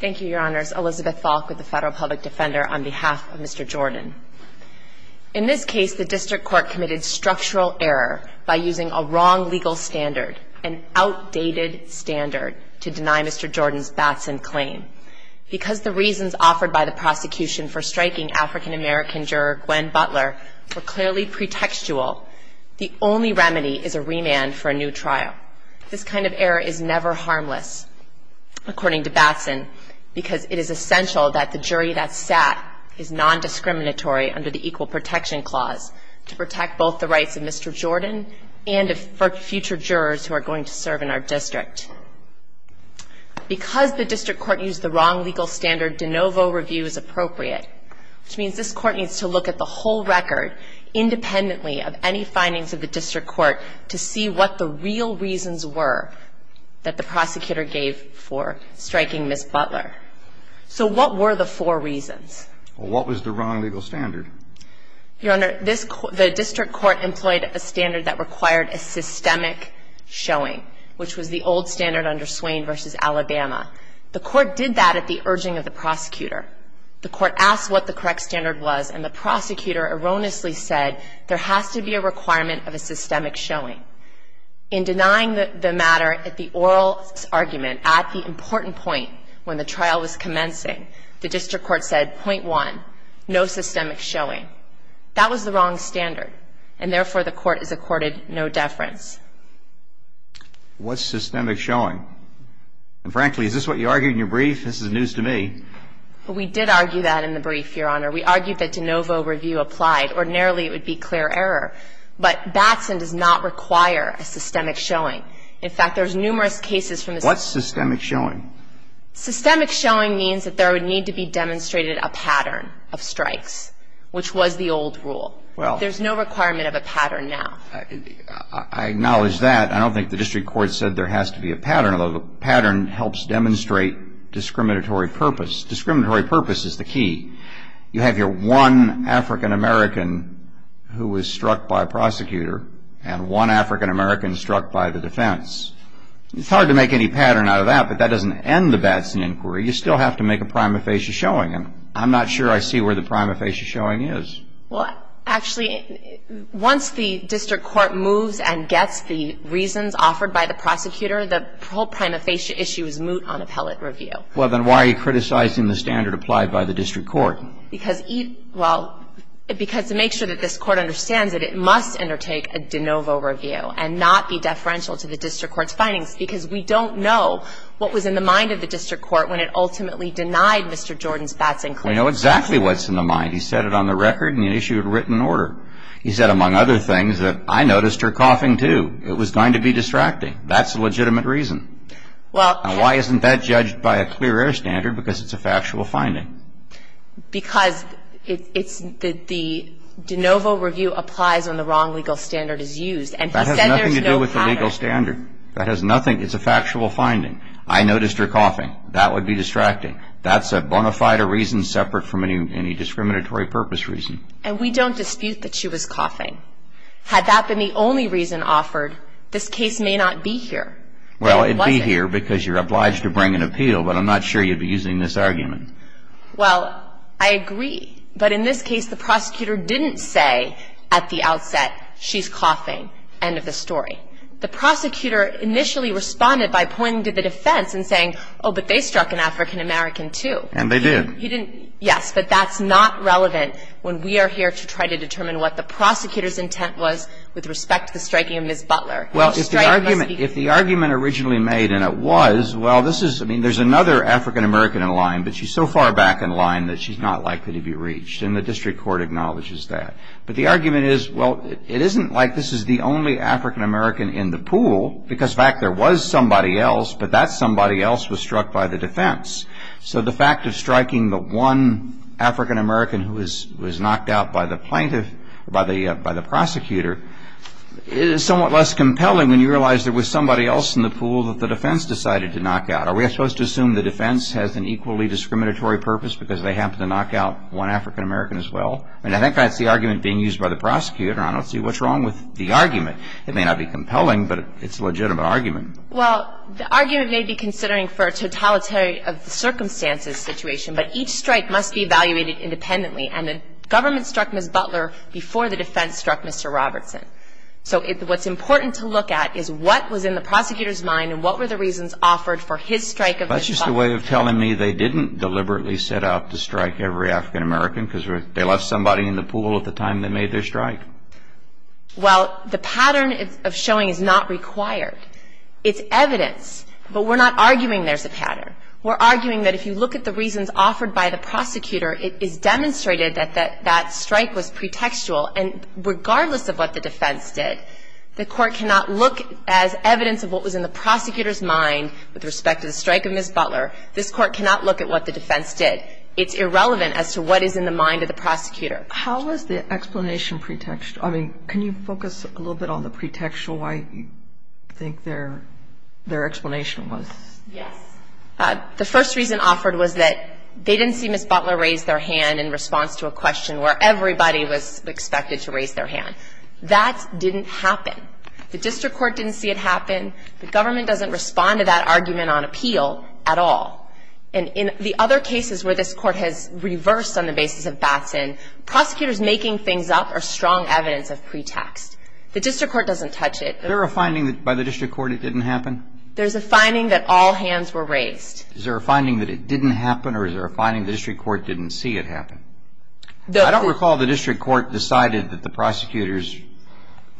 Thank you, Your Honors. Elizabeth Falk with the Federal Public Defender on behalf of Mr. Jordan. In this case, the District Court committed structural error by using a wrong legal standard, an outdated standard, to deny Mr. Jordan's Batson claim. Because the reasons offered by the prosecution for striking African-American juror Gwen Butler were clearly pretextual, the only remedy is a remand for a new trial. This kind of error is never harmless, according to Batson, because it is essential that the jury that sat is non-discriminatory under the Equal Protection Clause to protect both the rights of Mr. Jordan and of future jurors who are going to serve in our district. Because the District Court used the wrong legal standard, de novo review is appropriate, which means this Court needs to look at the whole record, independently of any findings of the District Court, to see what the real reasons were that the prosecutor gave for striking Ms. Butler. So what were the four reasons? Well, what was the wrong legal standard? Your Honor, the District Court employed a standard that required a systemic showing, which was the old standard under Swain v. Alabama. The Court did that at the urging of the prosecutor. The Court asked what the correct standard was, and the prosecutor erroneously said, there has to be a requirement of a systemic showing. In denying the matter at the oral argument at the important point when the trial was commencing, the District Court said, point one, no systemic showing. That was the wrong standard, and therefore, the Court has accorded no deference. What's systemic showing? And frankly, is this what you argue in your brief? This is news to me. We did argue that in the brief, Your Honor. We argued that de novo review applied. Ordinarily, it would be clear error. But Batson does not require a systemic showing. In fact, there's numerous cases from the system. What's systemic showing? Systemic showing means that there would need to be demonstrated a pattern of strikes, which was the old rule. There's no requirement of a pattern now. I acknowledge that. I don't think the District Court said there has to be a pattern, although the pattern helps demonstrate discriminatory purpose. Discriminatory purpose is the key. You have your one African-American who was struck by a prosecutor and one African-American struck by the defense. It's hard to make any pattern out of that, but that doesn't end the Batson inquiry. You still have to make a prima facie showing. I'm not sure I see where the prima facie showing is. Well, actually, once the District Court moves and gets the reasons offered by the prosecutor, the whole prima facie issue is moot on appellate review. Well, then why are you criticizing the standard applied by the District Court? Because, well, because to make sure that this Court understands it, it must undertake a de novo review and not be deferential to the District Court's findings, because we don't know what was in the mind of the District Court when it ultimately denied Mr. Jordan's Batson inquiry. We know exactly what's in the mind. He said it on the record and he issued a written order. He said, among other things, that I noticed her coughing, too. It was going to be distracting. That's a legitimate reason. And why isn't that judged by a clear air standard? Because it's a factual finding. Because it's the de novo review applies when the wrong legal standard is used. And he said there's no problem. That has nothing to do with the legal standard. That has nothing. It's a factual finding. I noticed her coughing. That would be distracting. That's a bona fide reason separate from any discriminatory purpose reason. And we don't dispute that she was coughing. Had that been the only reason offered, this case may not be here. Well, it would be here because you're obliged to bring an appeal, but I'm not sure you'd be using this argument. Well, I agree. But in this case, the prosecutor didn't say at the outset, she's coughing, end of the story. The prosecutor initially responded by pointing to the defense and saying, oh, but they struck an African-American, too. And they did. Yes, but that's not relevant when we are here to try to determine what the prosecutor's intent was with respect to the striking of Ms. Butler. Well, if the argument originally made, and it was, well, this is, I mean, there's another African-American in line, but she's so far back in line that she's not likely to be reached. And the district court acknowledges that. But the argument is, well, it isn't like this is the only African-American in the pool because, in fact, there was somebody else, but that somebody else was knocked out by the defense. So the fact of striking the one African-American who was knocked out by the plaintiff or by the prosecutor is somewhat less compelling when you realize there was somebody else in the pool that the defense decided to knock out. Are we supposed to assume the defense has an equally discriminatory purpose because they happened to knock out one African-American as well? I mean, I think that's the argument being used by the prosecutor. I don't see what's wrong with the argument. It may not be compelling, but it's a legitimate argument. Well, the argument may be considering for a totalitarian circumstances situation, but each strike must be evaluated independently. And the government struck Ms. Butler before the defense struck Mr. Robertson. So what's important to look at is what was in the prosecutor's mind and what were the reasons offered for his strike of Ms. Butler. That's just a way of telling me they didn't deliberately set out to strike every African-American because they left somebody in the pool at the time they made their strike. Well, the pattern of showing is not required. It's evidence. But we're not arguing there's a pattern. We're arguing that if you look at the reasons offered by the prosecutor, it is demonstrated that that strike was pretextual. And regardless of what the defense did, the court cannot look as evidence of what was in the prosecutor's mind with respect to the strike of Ms. Butler. This court cannot look at what the defense did. It's irrelevant as to what is in the mind of the prosecutor. How is the explanation pretextual? I mean, can you focus a little bit on the pretextual? I think their explanation was. Yes. The first reason offered was that they didn't see Ms. Butler raise their hand in response to a question where everybody was expected to raise their hand. That didn't happen. The district court didn't see it happen. The government doesn't respond to that argument on appeal at all. And in the other cases where this court has reversed on the basis of Batson, prosecutors making things up are strong evidence of pretext. The district court doesn't touch it. Is there a finding by the district court it didn't happen? There's a finding that all hands were raised. Is there a finding that it didn't happen, or is there a finding the district court didn't see it happen? I don't recall the district court decided that the prosecutor's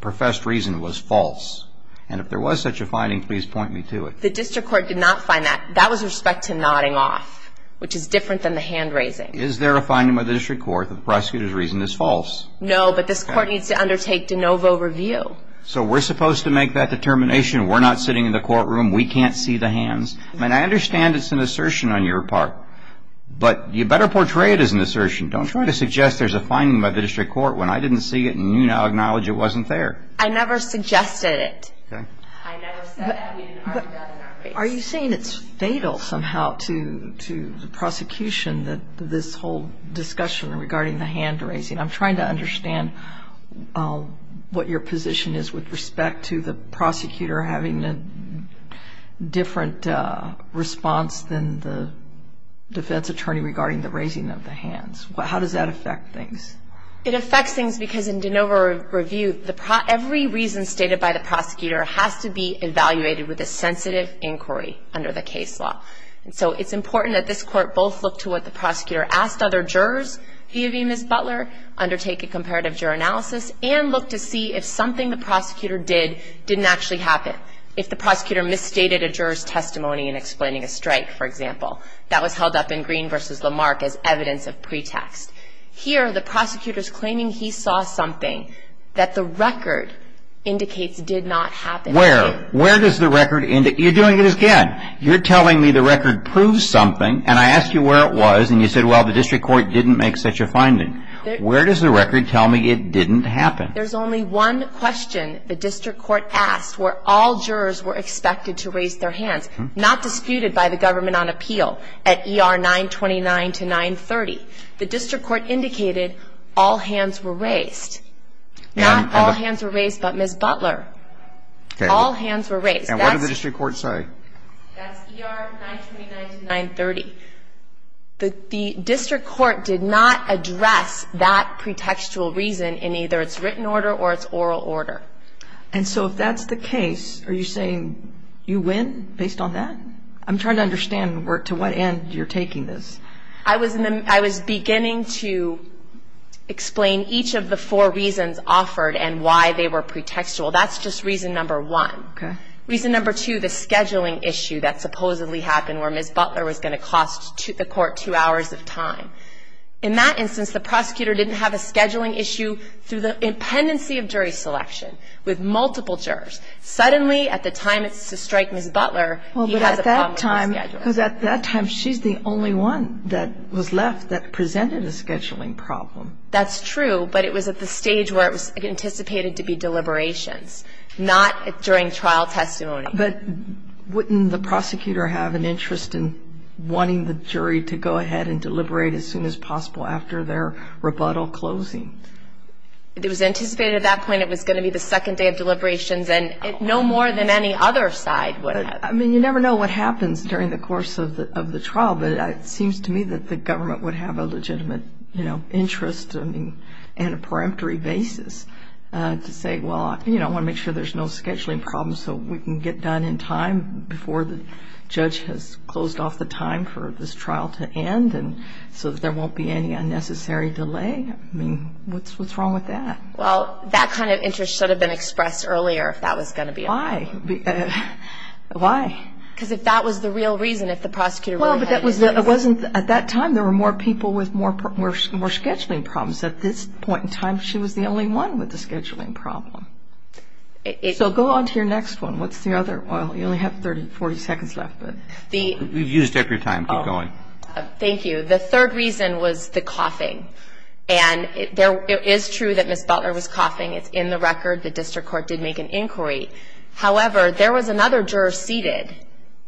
professed reason was false. And if there was such a finding, please point me to it. The district court did not find that. That was with respect to nodding off, which is different than the hand raising. Is there a finding by the district court that the prosecutor's reason is false? No, but this court needs to undertake de novo review. So we're supposed to make that determination. We're not sitting in the courtroom. We can't see the hands. I mean, I understand it's an assertion on your part, but you better portray it as an assertion. Don't try to suggest there's a finding by the district court when I didn't see it and you now acknowledge it wasn't there. I never suggested it. Okay. I never said that. We didn't argue that in our case. Are you saying it's fatal somehow to the prosecution that this whole discussion regarding the hand raising? I'm trying to understand what your position is with respect to the prosecutor having a different response than the defense attorney regarding the raising of the hands. How does that affect things? It affects things because in de novo review, every reason stated by the prosecutor has to be evaluated with a sensitive inquiry under the case law. And so it's important that this court both look to what the prosecutor asked other jurors, V. of E. Ms. Butler, undertake a comparative juror analysis, and look to see if something the prosecutor did didn't actually happen. If the prosecutor misstated a juror's testimony in explaining a strike, for example. That was held up in Green v. Lamarck as evidence of pretext. Here, the prosecutor's claiming he saw something that the record indicates did not happen. Where? Where does the record indicate? You're doing it again. You're telling me the record proves something, and I asked you where it was, and you said, well, the district court didn't make such a finding. Where does the record tell me it didn't happen? There's only one question the district court asked where all jurors were expected to raise their hands. Not disputed by the government on appeal at E.R. 929 to 930. The district court indicated all hands were raised. Not all hands were raised but Ms. Butler. All hands were raised. And what did the district court say? That's E.R. 929 to 930. The district court did not address that pretextual reason in either its written order or its oral order. And so if that's the case, are you saying you win based on that? I'm trying to understand to what end you're taking this. I was beginning to explain each of the four reasons offered and why they were pretextual. That's just reason number one. Okay. Reason number two, the scheduling issue that supposedly happened where Ms. Butler was going to cost the court two hours of time. In that instance, the prosecutor didn't have a scheduling issue through the impendency of jury selection with multiple jurors. Suddenly, at the time it's to strike Ms. Butler, he has a problem with scheduling. Well, but at that time she's the only one that was left that presented a scheduling problem. That's true, but it was at the stage where it was anticipated to be deliberations. Not during trial testimony. But wouldn't the prosecutor have an interest in wanting the jury to go ahead and deliberate as soon as possible after their rebuttal closing? It was anticipated at that point it was going to be the second day of deliberations and no more than any other side would have. I mean, you never know what happens during the course of the trial, but it seems to me that the government would have a legitimate interest in a peremptory basis to say, well, I want to make sure there's no scheduling problems so we can get done in time before the judge has closed off the time for this trial to end so that there won't be any unnecessary delay. I mean, what's wrong with that? Well, that kind of interest should have been expressed earlier if that was going to be a problem. Why? Why? Because if that was the real reason, if the prosecutor really had an interest. At that time, there were more people with more scheduling problems. At this point in time, she was the only one with a scheduling problem. So go on to your next one. What's the other one? You only have 30, 40 seconds left. We've used up your time. Keep going. Thank you. The third reason was the coughing. And it is true that Ms. Butler was coughing. It's in the record. The district court did make an inquiry. However, there was another juror seated,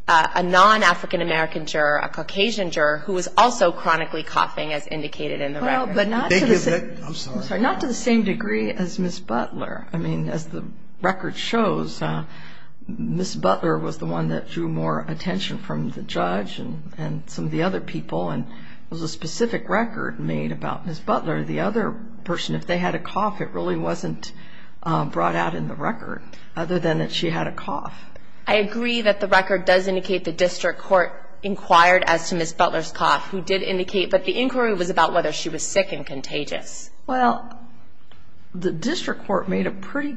a non-African American juror, a Caucasian juror, who was also chronically coughing as indicated in the record. Thank you. I'm sorry. Not to the same degree as Ms. Butler. I mean, as the record shows, Ms. Butler was the one that drew more attention from the judge and some of the other people, and there was a specific record made about Ms. Butler. The other person, if they had a cough, it really wasn't brought out in the record, other than that she had a cough. I agree that the record does indicate the district court inquired as to Ms. Butler's cough, who did indicate that the inquiry was about whether she was sick and contagious. Well, the district court made a pretty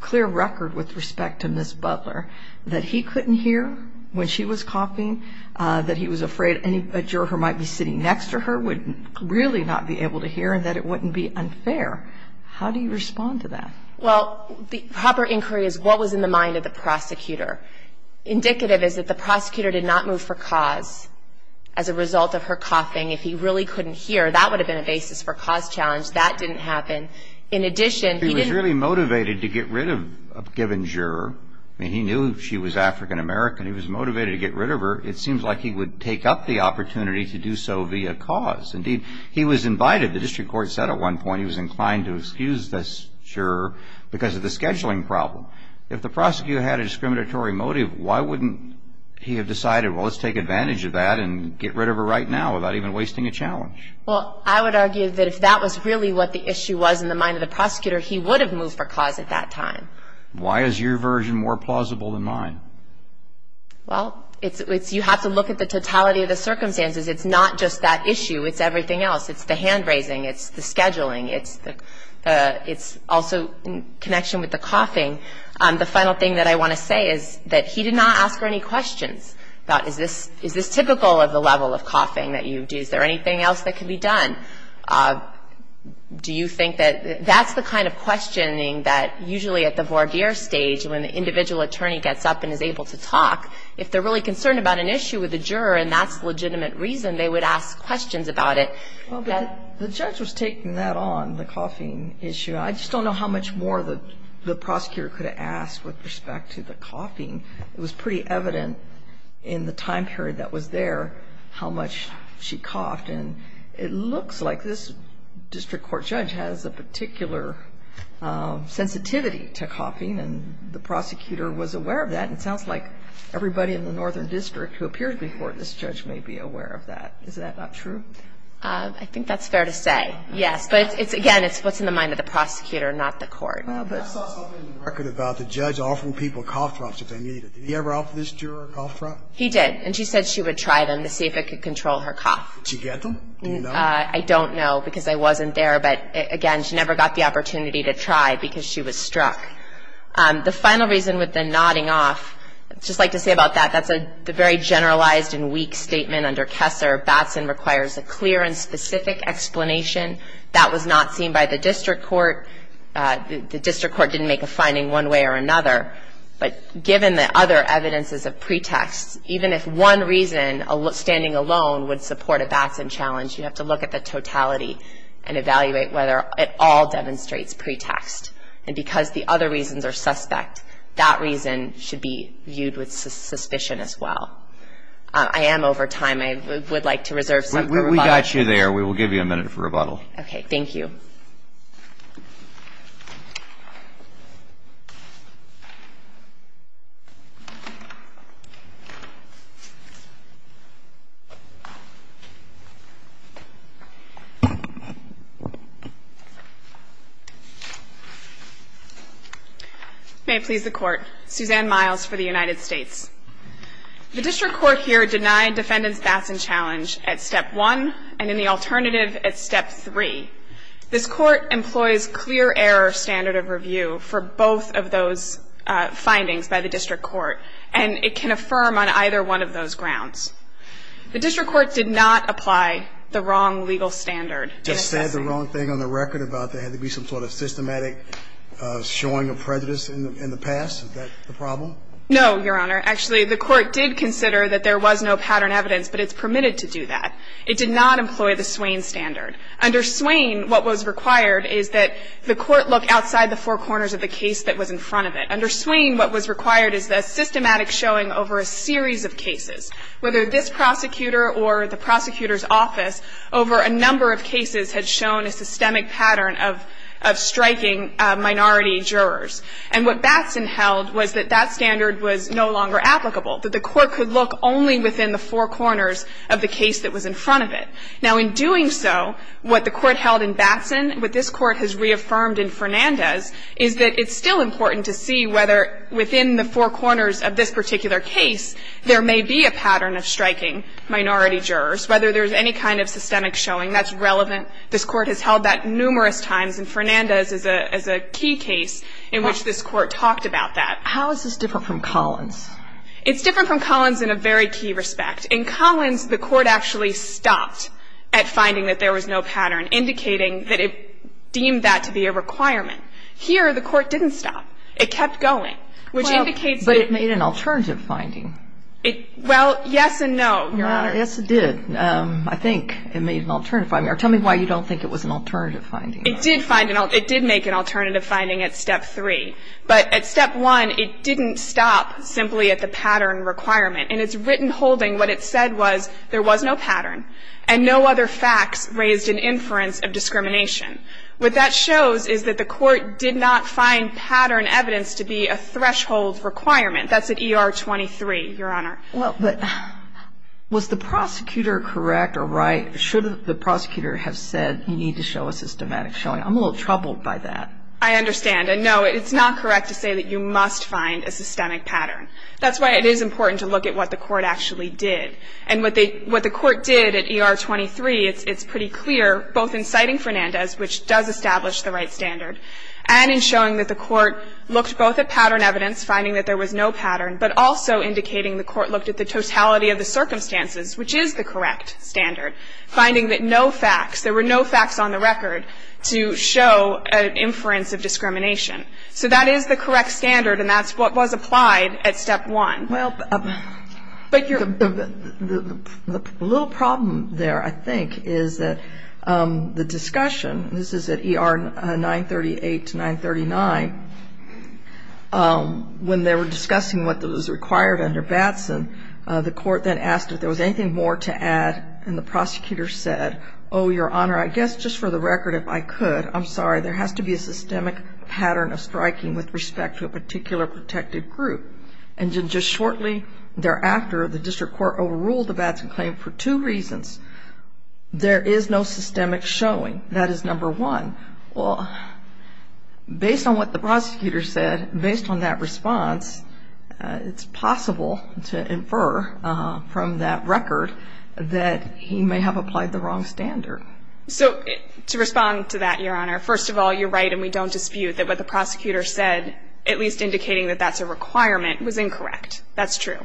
clear record with respect to Ms. Butler that he couldn't hear when she was coughing, that he was afraid a juror who might be sitting next to her would really not be able to hear and that it wouldn't be unfair. How do you respond to that? Well, the proper inquiry is what was in the mind of the prosecutor. Indicative is that the prosecutor did not move for cause as a result of her coughing. If he really couldn't hear, that would have been a basis for a cause challenge. That didn't happen. In addition, he didn't. He was really motivated to get rid of a given juror. I mean, he knew she was African American. He was motivated to get rid of her. It seems like he would take up the opportunity to do so via cause. Indeed, he was invited. The district court said at one point he was inclined to excuse this juror because of the scheduling problem. If the prosecutor had a discriminatory motive, why wouldn't he have decided, well, let's take advantage of that and get rid of her right now without even wasting a challenge? Well, I would argue that if that was really what the issue was in the mind of the prosecutor, he would have moved for cause at that time. Why is your version more plausible than mine? Well, you have to look at the totality of the circumstances. It's not just that issue. It's everything else. It's the hand raising. It's the scheduling. It's also in connection with the coughing. The final thing that I want to say is that he did not ask her any questions. Is this typical of the level of coughing that you do? Is there anything else that can be done? Do you think that that's the kind of questioning that usually at the voir dire stage when the individual attorney gets up and is able to talk, if they're really concerned about an issue with the juror and that's legitimate reason they would ask questions about it? Well, the judge was taking that on, the coughing issue. I just don't know how much more the prosecutor could have asked with respect to the coughing. It was pretty evident in the time period that was there how much she coughed. And it looks like this district court judge has a particular sensitivity to coughing, and the prosecutor was aware of that. It sounds like everybody in the northern district who appeared before this judge may be aware of that. Is that not true? I think that's fair to say, yes. But, again, it's what's in the mind of the prosecutor, not the court. I saw something in the record about the judge offering people cough drops if they need it. Did he ever offer this juror a cough drop? He did, and she said she would try them to see if it could control her cough. Did you get them? Do you know? I don't know because I wasn't there. But, again, she never got the opportunity to try because she was struck. The final reason with the nodding off, I'd just like to say about that, that's a very generalized and weak statement under Kessler. Batson requires a clear and specific explanation. That was not seen by the district court. The district court didn't make a finding one way or another. But given the other evidences of pretext, even if one reason, standing alone, would support a Batson challenge, you have to look at the totality and evaluate whether it all demonstrates pretext. And because the other reasons are suspect, that reason should be viewed with suspicion as well. I am over time. I would like to reserve some for rebuttal. We got you there. We will give you a minute for rebuttal. Okay. Thank you. May it please the Court. Suzanne Miles for the United States. The district court here denied defendants' Batson challenge at Step 1 and in the alternative at Step 3. This Court employs clear error standard of review for both of those findings by the district court. And it can affirm on either one of those grounds. The district court did not apply the wrong legal standard. Just said the wrong thing on the record about there had to be some sort of systematic showing of prejudice in the past. Is that the problem? No, Your Honor. Actually, the Court did consider that there was no pattern evidence, but it's permitted to do that. It did not employ the Swain standard. Under Swain, what was required is that the Court look outside the four corners of the case that was in front of it. Under Swain, what was required is the systematic showing over a series of cases, whether this prosecutor or the prosecutor's office over a number of cases had shown a systemic pattern of striking minority jurors. And what Batson held was that that standard was no longer applicable, that the Court could look only within the four corners of the case that was in front of it. Now, in doing so, what the Court held in Batson, what this Court has reaffirmed in Fernandez, is that it's still important to see whether within the four corners of this particular case there may be a pattern of striking minority jurors, whether there's any kind of systemic showing that's relevant. This Court has held that numerous times, and Fernandez is a key case in which this Court talked about that. How is this different from Collins? It's different from Collins in a very key respect. In Collins, the Court actually stopped at finding that there was no pattern, indicating that it deemed that to be a requirement. Here, the Court didn't stop. It kept going. Which indicates that the Court didn't stop. But it made an alternative finding. Well, yes and no, Your Honor. Yes, it did. I think it made an alternative finding. Or tell me why you don't think it was an alternative finding. It did find an alternative. It did make an alternative finding at Step 3. But at Step 1, it didn't stop simply at the pattern requirement. In its written holding, what it said was there was no pattern and no other facts raised an inference of discrimination. What that shows is that the Court did not find pattern evidence to be a threshold requirement. That's at ER 23, Your Honor. Well, but was the prosecutor correct or right? Should the prosecutor have said you need to show a systematic showing? I'm a little troubled by that. I understand. And, no, it's not correct to say that you must find a systemic pattern. That's why it is important to look at what the Court actually did. And what the Court did at ER 23, it's pretty clear, both in citing Fernandez, which does establish the right standard, and in showing that the Court looked both at pattern evidence, finding that there was no pattern, but also indicating the Court looked at the totality of the circumstances, which is the correct standard, finding that no facts, there were no facts on the record to show an inference of discrimination. So that is the correct standard, and that's what was applied at Step 1. Well, the little problem there, I think, is that the discussion, this is at ER 938 to 939, when they were discussing what was required under Batson, the Court then asked if there was anything more to add, and the prosecutor said, oh, Your Honor, I guess just for the record, if I could, I'm sorry, there has to be a systemic pattern of striking with respect to a particular protected group. And then just shortly thereafter, the District Court overruled the Batson claim for two reasons. There is no systemic showing. That is number one. Well, based on what the prosecutor said, based on that response, it's possible to infer from that record that he may have applied the wrong standard. So to respond to that, Your Honor, first of all, you're right, and we don't dispute that what the prosecutor said, at least indicating that that's a requirement, was incorrect. That's true.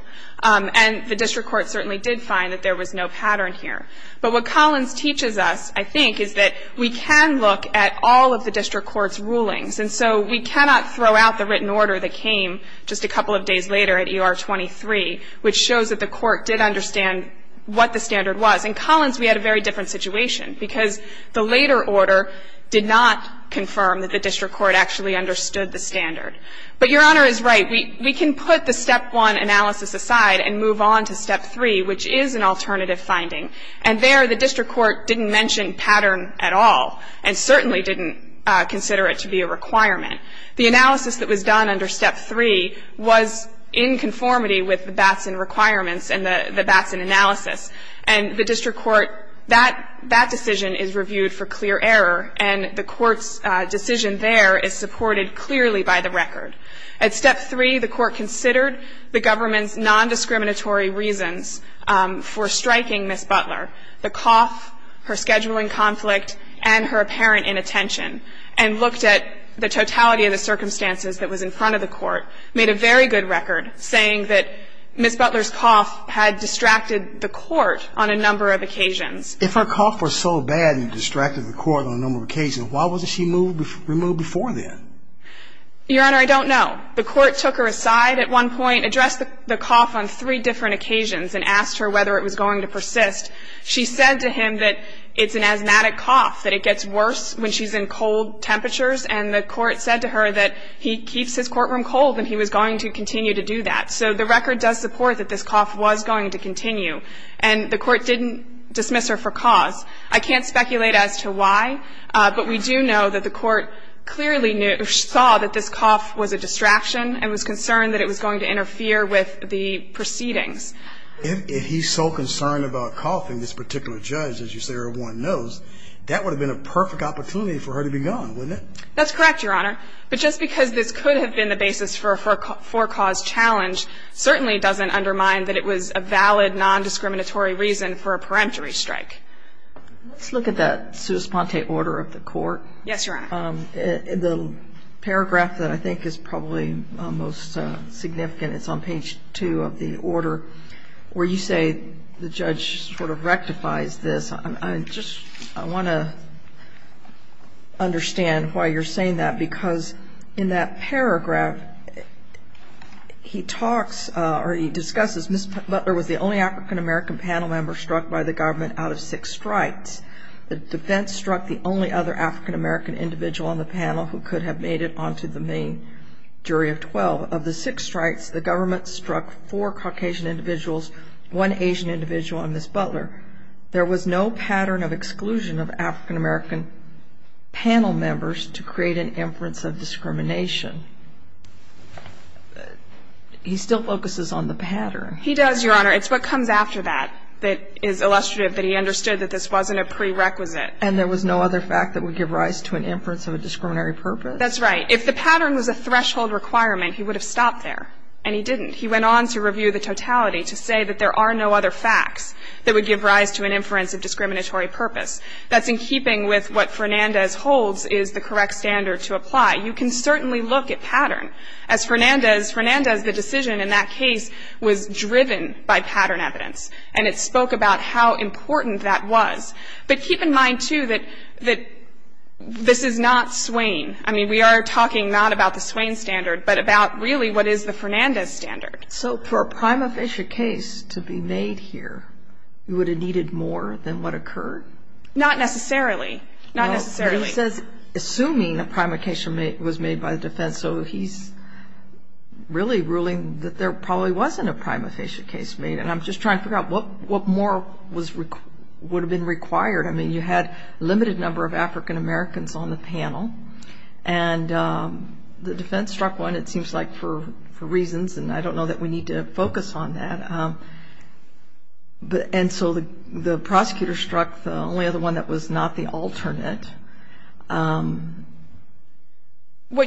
And the District Court certainly did find that there was no pattern here. But what Collins teaches us, I think, is that we can look at all of the District Court's rulings. And so we cannot throw out the written order that came just a couple of days later at ER 23, which shows that the Court did understand what the standard was. In Collins, we had a very different situation, because the later order did not confirm that the District Court actually understood the standard. But Your Honor is right. We can put the Step 1 analysis aside and move on to Step 3, which is an alternative finding. And there, the District Court didn't mention pattern at all and certainly didn't consider it to be a requirement. The analysis that was done under Step 3 was in conformity with the Batson requirements and the Batson analysis. And the District Court, that decision is reviewed for clear error, and the Court's decision there is supported clearly by the record. At Step 3, the Court considered the government's nondiscriminatory reasons for striking Ms. Butler, the cough, her scheduling conflict, and her apparent inattention, and looked at the totality of the circumstances that was in front of the Court, made a very good record saying that Ms. Butler's cough had distracted the Court on a number of occasions. If her cough was so bad it distracted the Court on a number of occasions, why wasn't she removed before then? Your Honor, I don't know. The Court took her aside at one point, addressed the cough on three different occasions, and asked her whether it was going to persist. She said to him that it's an asthmatic cough, that it gets worse when she's in cold temperatures, and the Court said to her that he keeps his courtroom cold and he was going to continue to do that. So the record does support that this cough was going to continue, and the Court didn't dismiss her for cause. I can't speculate as to why, but we do know that the Court clearly saw that this cough was a distraction and was concerned that it was going to interfere with the proceedings. If he's so concerned about coughing, this particular judge, as you say, or one knows, that would have been a perfect opportunity for her to be gone, wouldn't it? That's correct, Your Honor. But just because this could have been the basis for a forecaused challenge certainly doesn't undermine that it was a valid nondiscriminatory reason for a peremptory strike. Let's look at that sua sponte order of the Court. Yes, Your Honor. The paragraph that I think is probably most significant, it's on page 2 of the order where you say the judge sort of rectifies this. I just want to understand why you're saying that, because in that paragraph, he talks or he discusses Ms. Butler was the only African-American panel member struck by the government out of six strikes. The defense struck the only other African-American individual on the panel who could have made it onto the main jury of 12. Of the six strikes, the government struck four Caucasian individuals, one Asian individual, and Ms. Butler. There was no pattern of exclusion of African-American panel members to create an inference of discrimination. He still focuses on the pattern. He does, Your Honor. It's what comes after that that is illustrative that he understood that this wasn't a prerequisite. And there was no other fact that would give rise to an inference of a discriminatory purpose? That's right. If the pattern was a threshold requirement, he would have stopped there, and he didn't. He went on to review the totality to say that there are no other facts that would give rise to an inference of discriminatory purpose. That's in keeping with what Fernandez holds is the correct standard to apply. You can certainly look at pattern. As Fernandez, Fernandez, the decision in that case was driven by pattern evidence, and it spoke about how important that was. But keep in mind, too, that this is not Swain. I mean, we are talking not about the Swain standard, but about really what is the Swain standard. So for a prima facie case to be made here, you would have needed more than what occurred? Not necessarily. Not necessarily. He says assuming a prima facie was made by the defense, so he's really ruling that there probably wasn't a prima facie case made. And I'm just trying to figure out what more would have been required. I mean, you had a limited number of African Americans on the panel, and the defense struck one, it seems like, for reasons, and I don't know that we need to focus on that. And so the prosecutor struck the only other one that was not the alternate. What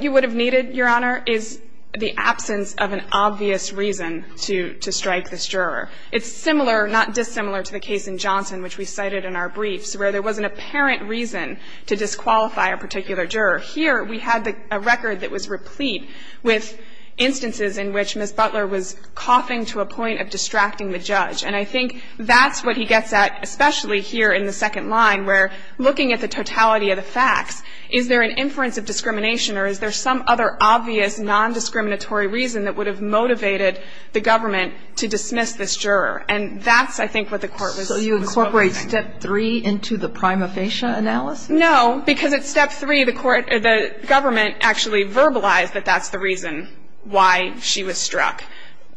you would have needed, Your Honor, is the absence of an obvious reason to strike this juror. It's similar, not dissimilar, to the case in Johnson, which we cited in our briefs, where there was an apparent reason to disqualify a particular juror. Here, we had a record that was replete with instances in which Ms. Butler was coughing to a point of distracting the judge. And I think that's what he gets at, especially here in the second line, where looking at the totality of the facts, is there an inference of discrimination or is there some other obvious nondiscriminatory reason that would have motivated the government to dismiss this juror? And that's, I think, what the Court was looking at. So you incorporate Step 3 into the prima facie analysis? No, because at Step 3, the Court or the government actually verbalized that that's the reason why she was struck.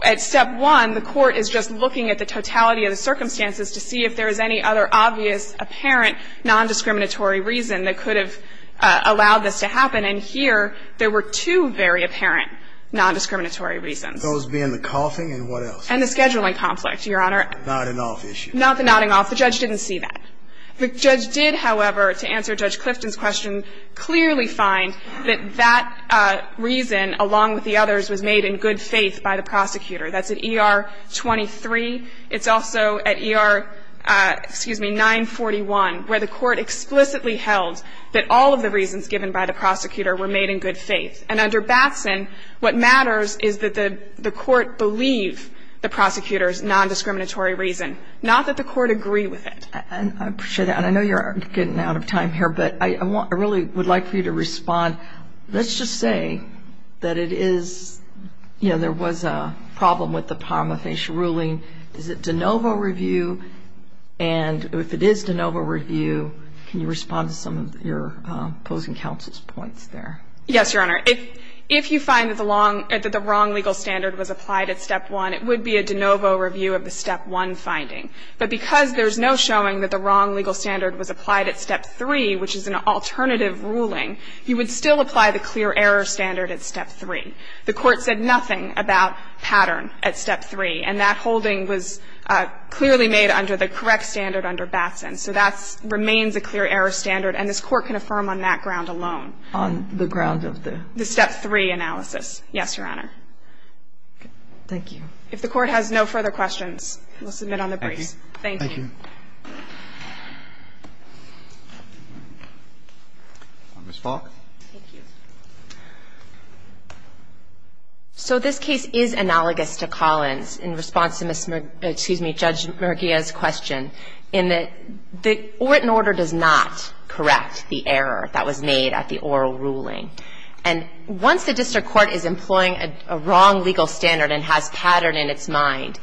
At Step 1, the Court is just looking at the totality of the circumstances to see if there is any other obvious, apparent nondiscriminatory reason that could have allowed this to happen. And here, there were two very apparent nondiscriminatory reasons. Those being the coughing and what else? And the scheduling conflict, Your Honor. The nodding off issue. Not the nodding off. The judge didn't see that. The judge did, however, to answer Judge Clifton's question, clearly find that that reason, along with the others, was made in good faith by the prosecutor. That's at ER 23. It's also at ER, excuse me, 941, where the Court explicitly held that all of the reasons given by the prosecutor were made in good faith. And under Batson, what matters is that the Court believe the prosecutor's nondiscriminatory reason, not that the Court agree with it. And I appreciate that. And I know you're getting out of time here, but I really would like for you to respond. Let's just say that it is, you know, there was a problem with the Parma-Fish ruling. Is it de novo review? And if it is de novo review, can you respond to some of your opposing counsel's points there? Yes, Your Honor. If you find that the wrong legal standard was applied at Step 1, it would be a de novo review of the Step 1 finding. But because there's no showing that the wrong legal standard was applied at Step 3, which is an alternative ruling, you would still apply the clear error standard at Step 3. The Court said nothing about pattern at Step 3, and that holding was clearly made under the correct standard under Batson. So that remains a clear error standard, and this Court can affirm on that ground alone. On the ground of the? The Step 3 analysis. Yes, Your Honor. Thank you. If the Court has no further questions, we'll submit on the brief. Thank you. Ms. Falk. Thank you. So this case is analogous to Collins in response to Judge Murguia's question in that the Orton order does not correct the error that was made at the oral ruling. And once the district court is employing a wrong legal standard and has pattern in its mind,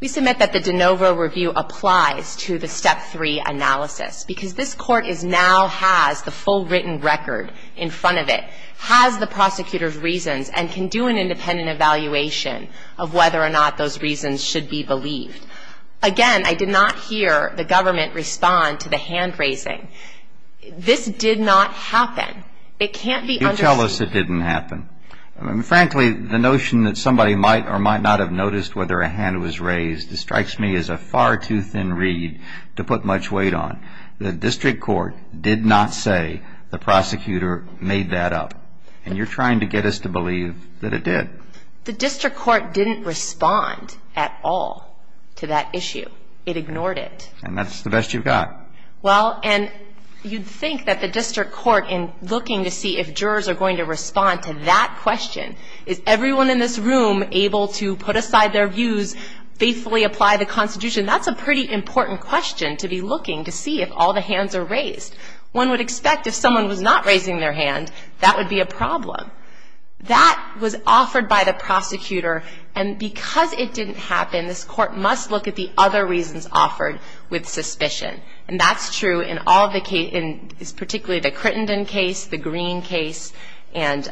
we submit that the de novo review applies to the Step 3 analysis. Because this Court now has the full written record in front of it, has the prosecutor's reasons, and can do an independent evaluation of whether or not those reasons should be believed. Again, I did not hear the government respond to the hand raising. This did not happen. It can't be understood. You tell us it didn't happen. Frankly, the notion that somebody might or might not have noticed whether a hand was raised strikes me as a far too thin reed to put much weight on. The district court did not say the prosecutor made that up. And you're trying to get us to believe that it did. The district court didn't respond at all to that issue. It ignored it. And that's the best you've got. Well, and you'd think that the district court, in looking to see if jurors are going to respond to that question, is everyone in this room able to put aside their views, faithfully apply the Constitution? That's a pretty important question to be looking to see if all the hands are raised. One would expect if someone was not raising their hand, that would be a problem. That was offered by the prosecutor. And because it didn't happen, this court must look at the other reasons offered with suspicion. And that's true in all the cases, particularly the Crittenden case, the Green case, and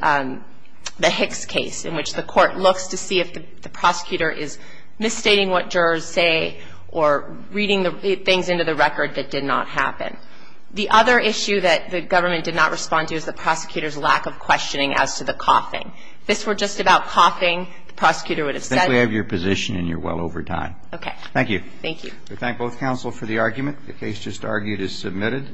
the Hicks case, in which the court looks to see if the prosecutor is misstating what jurors say or reading things into the record that did not happen. The other issue that the government did not respond to is the prosecutor's lack of questioning as to the coughing. If this were just about coughing, the prosecutor would have said it. I think we have your position and you're well over time. Thank you. We thank both counsel for the argument. The case just argued is submitted.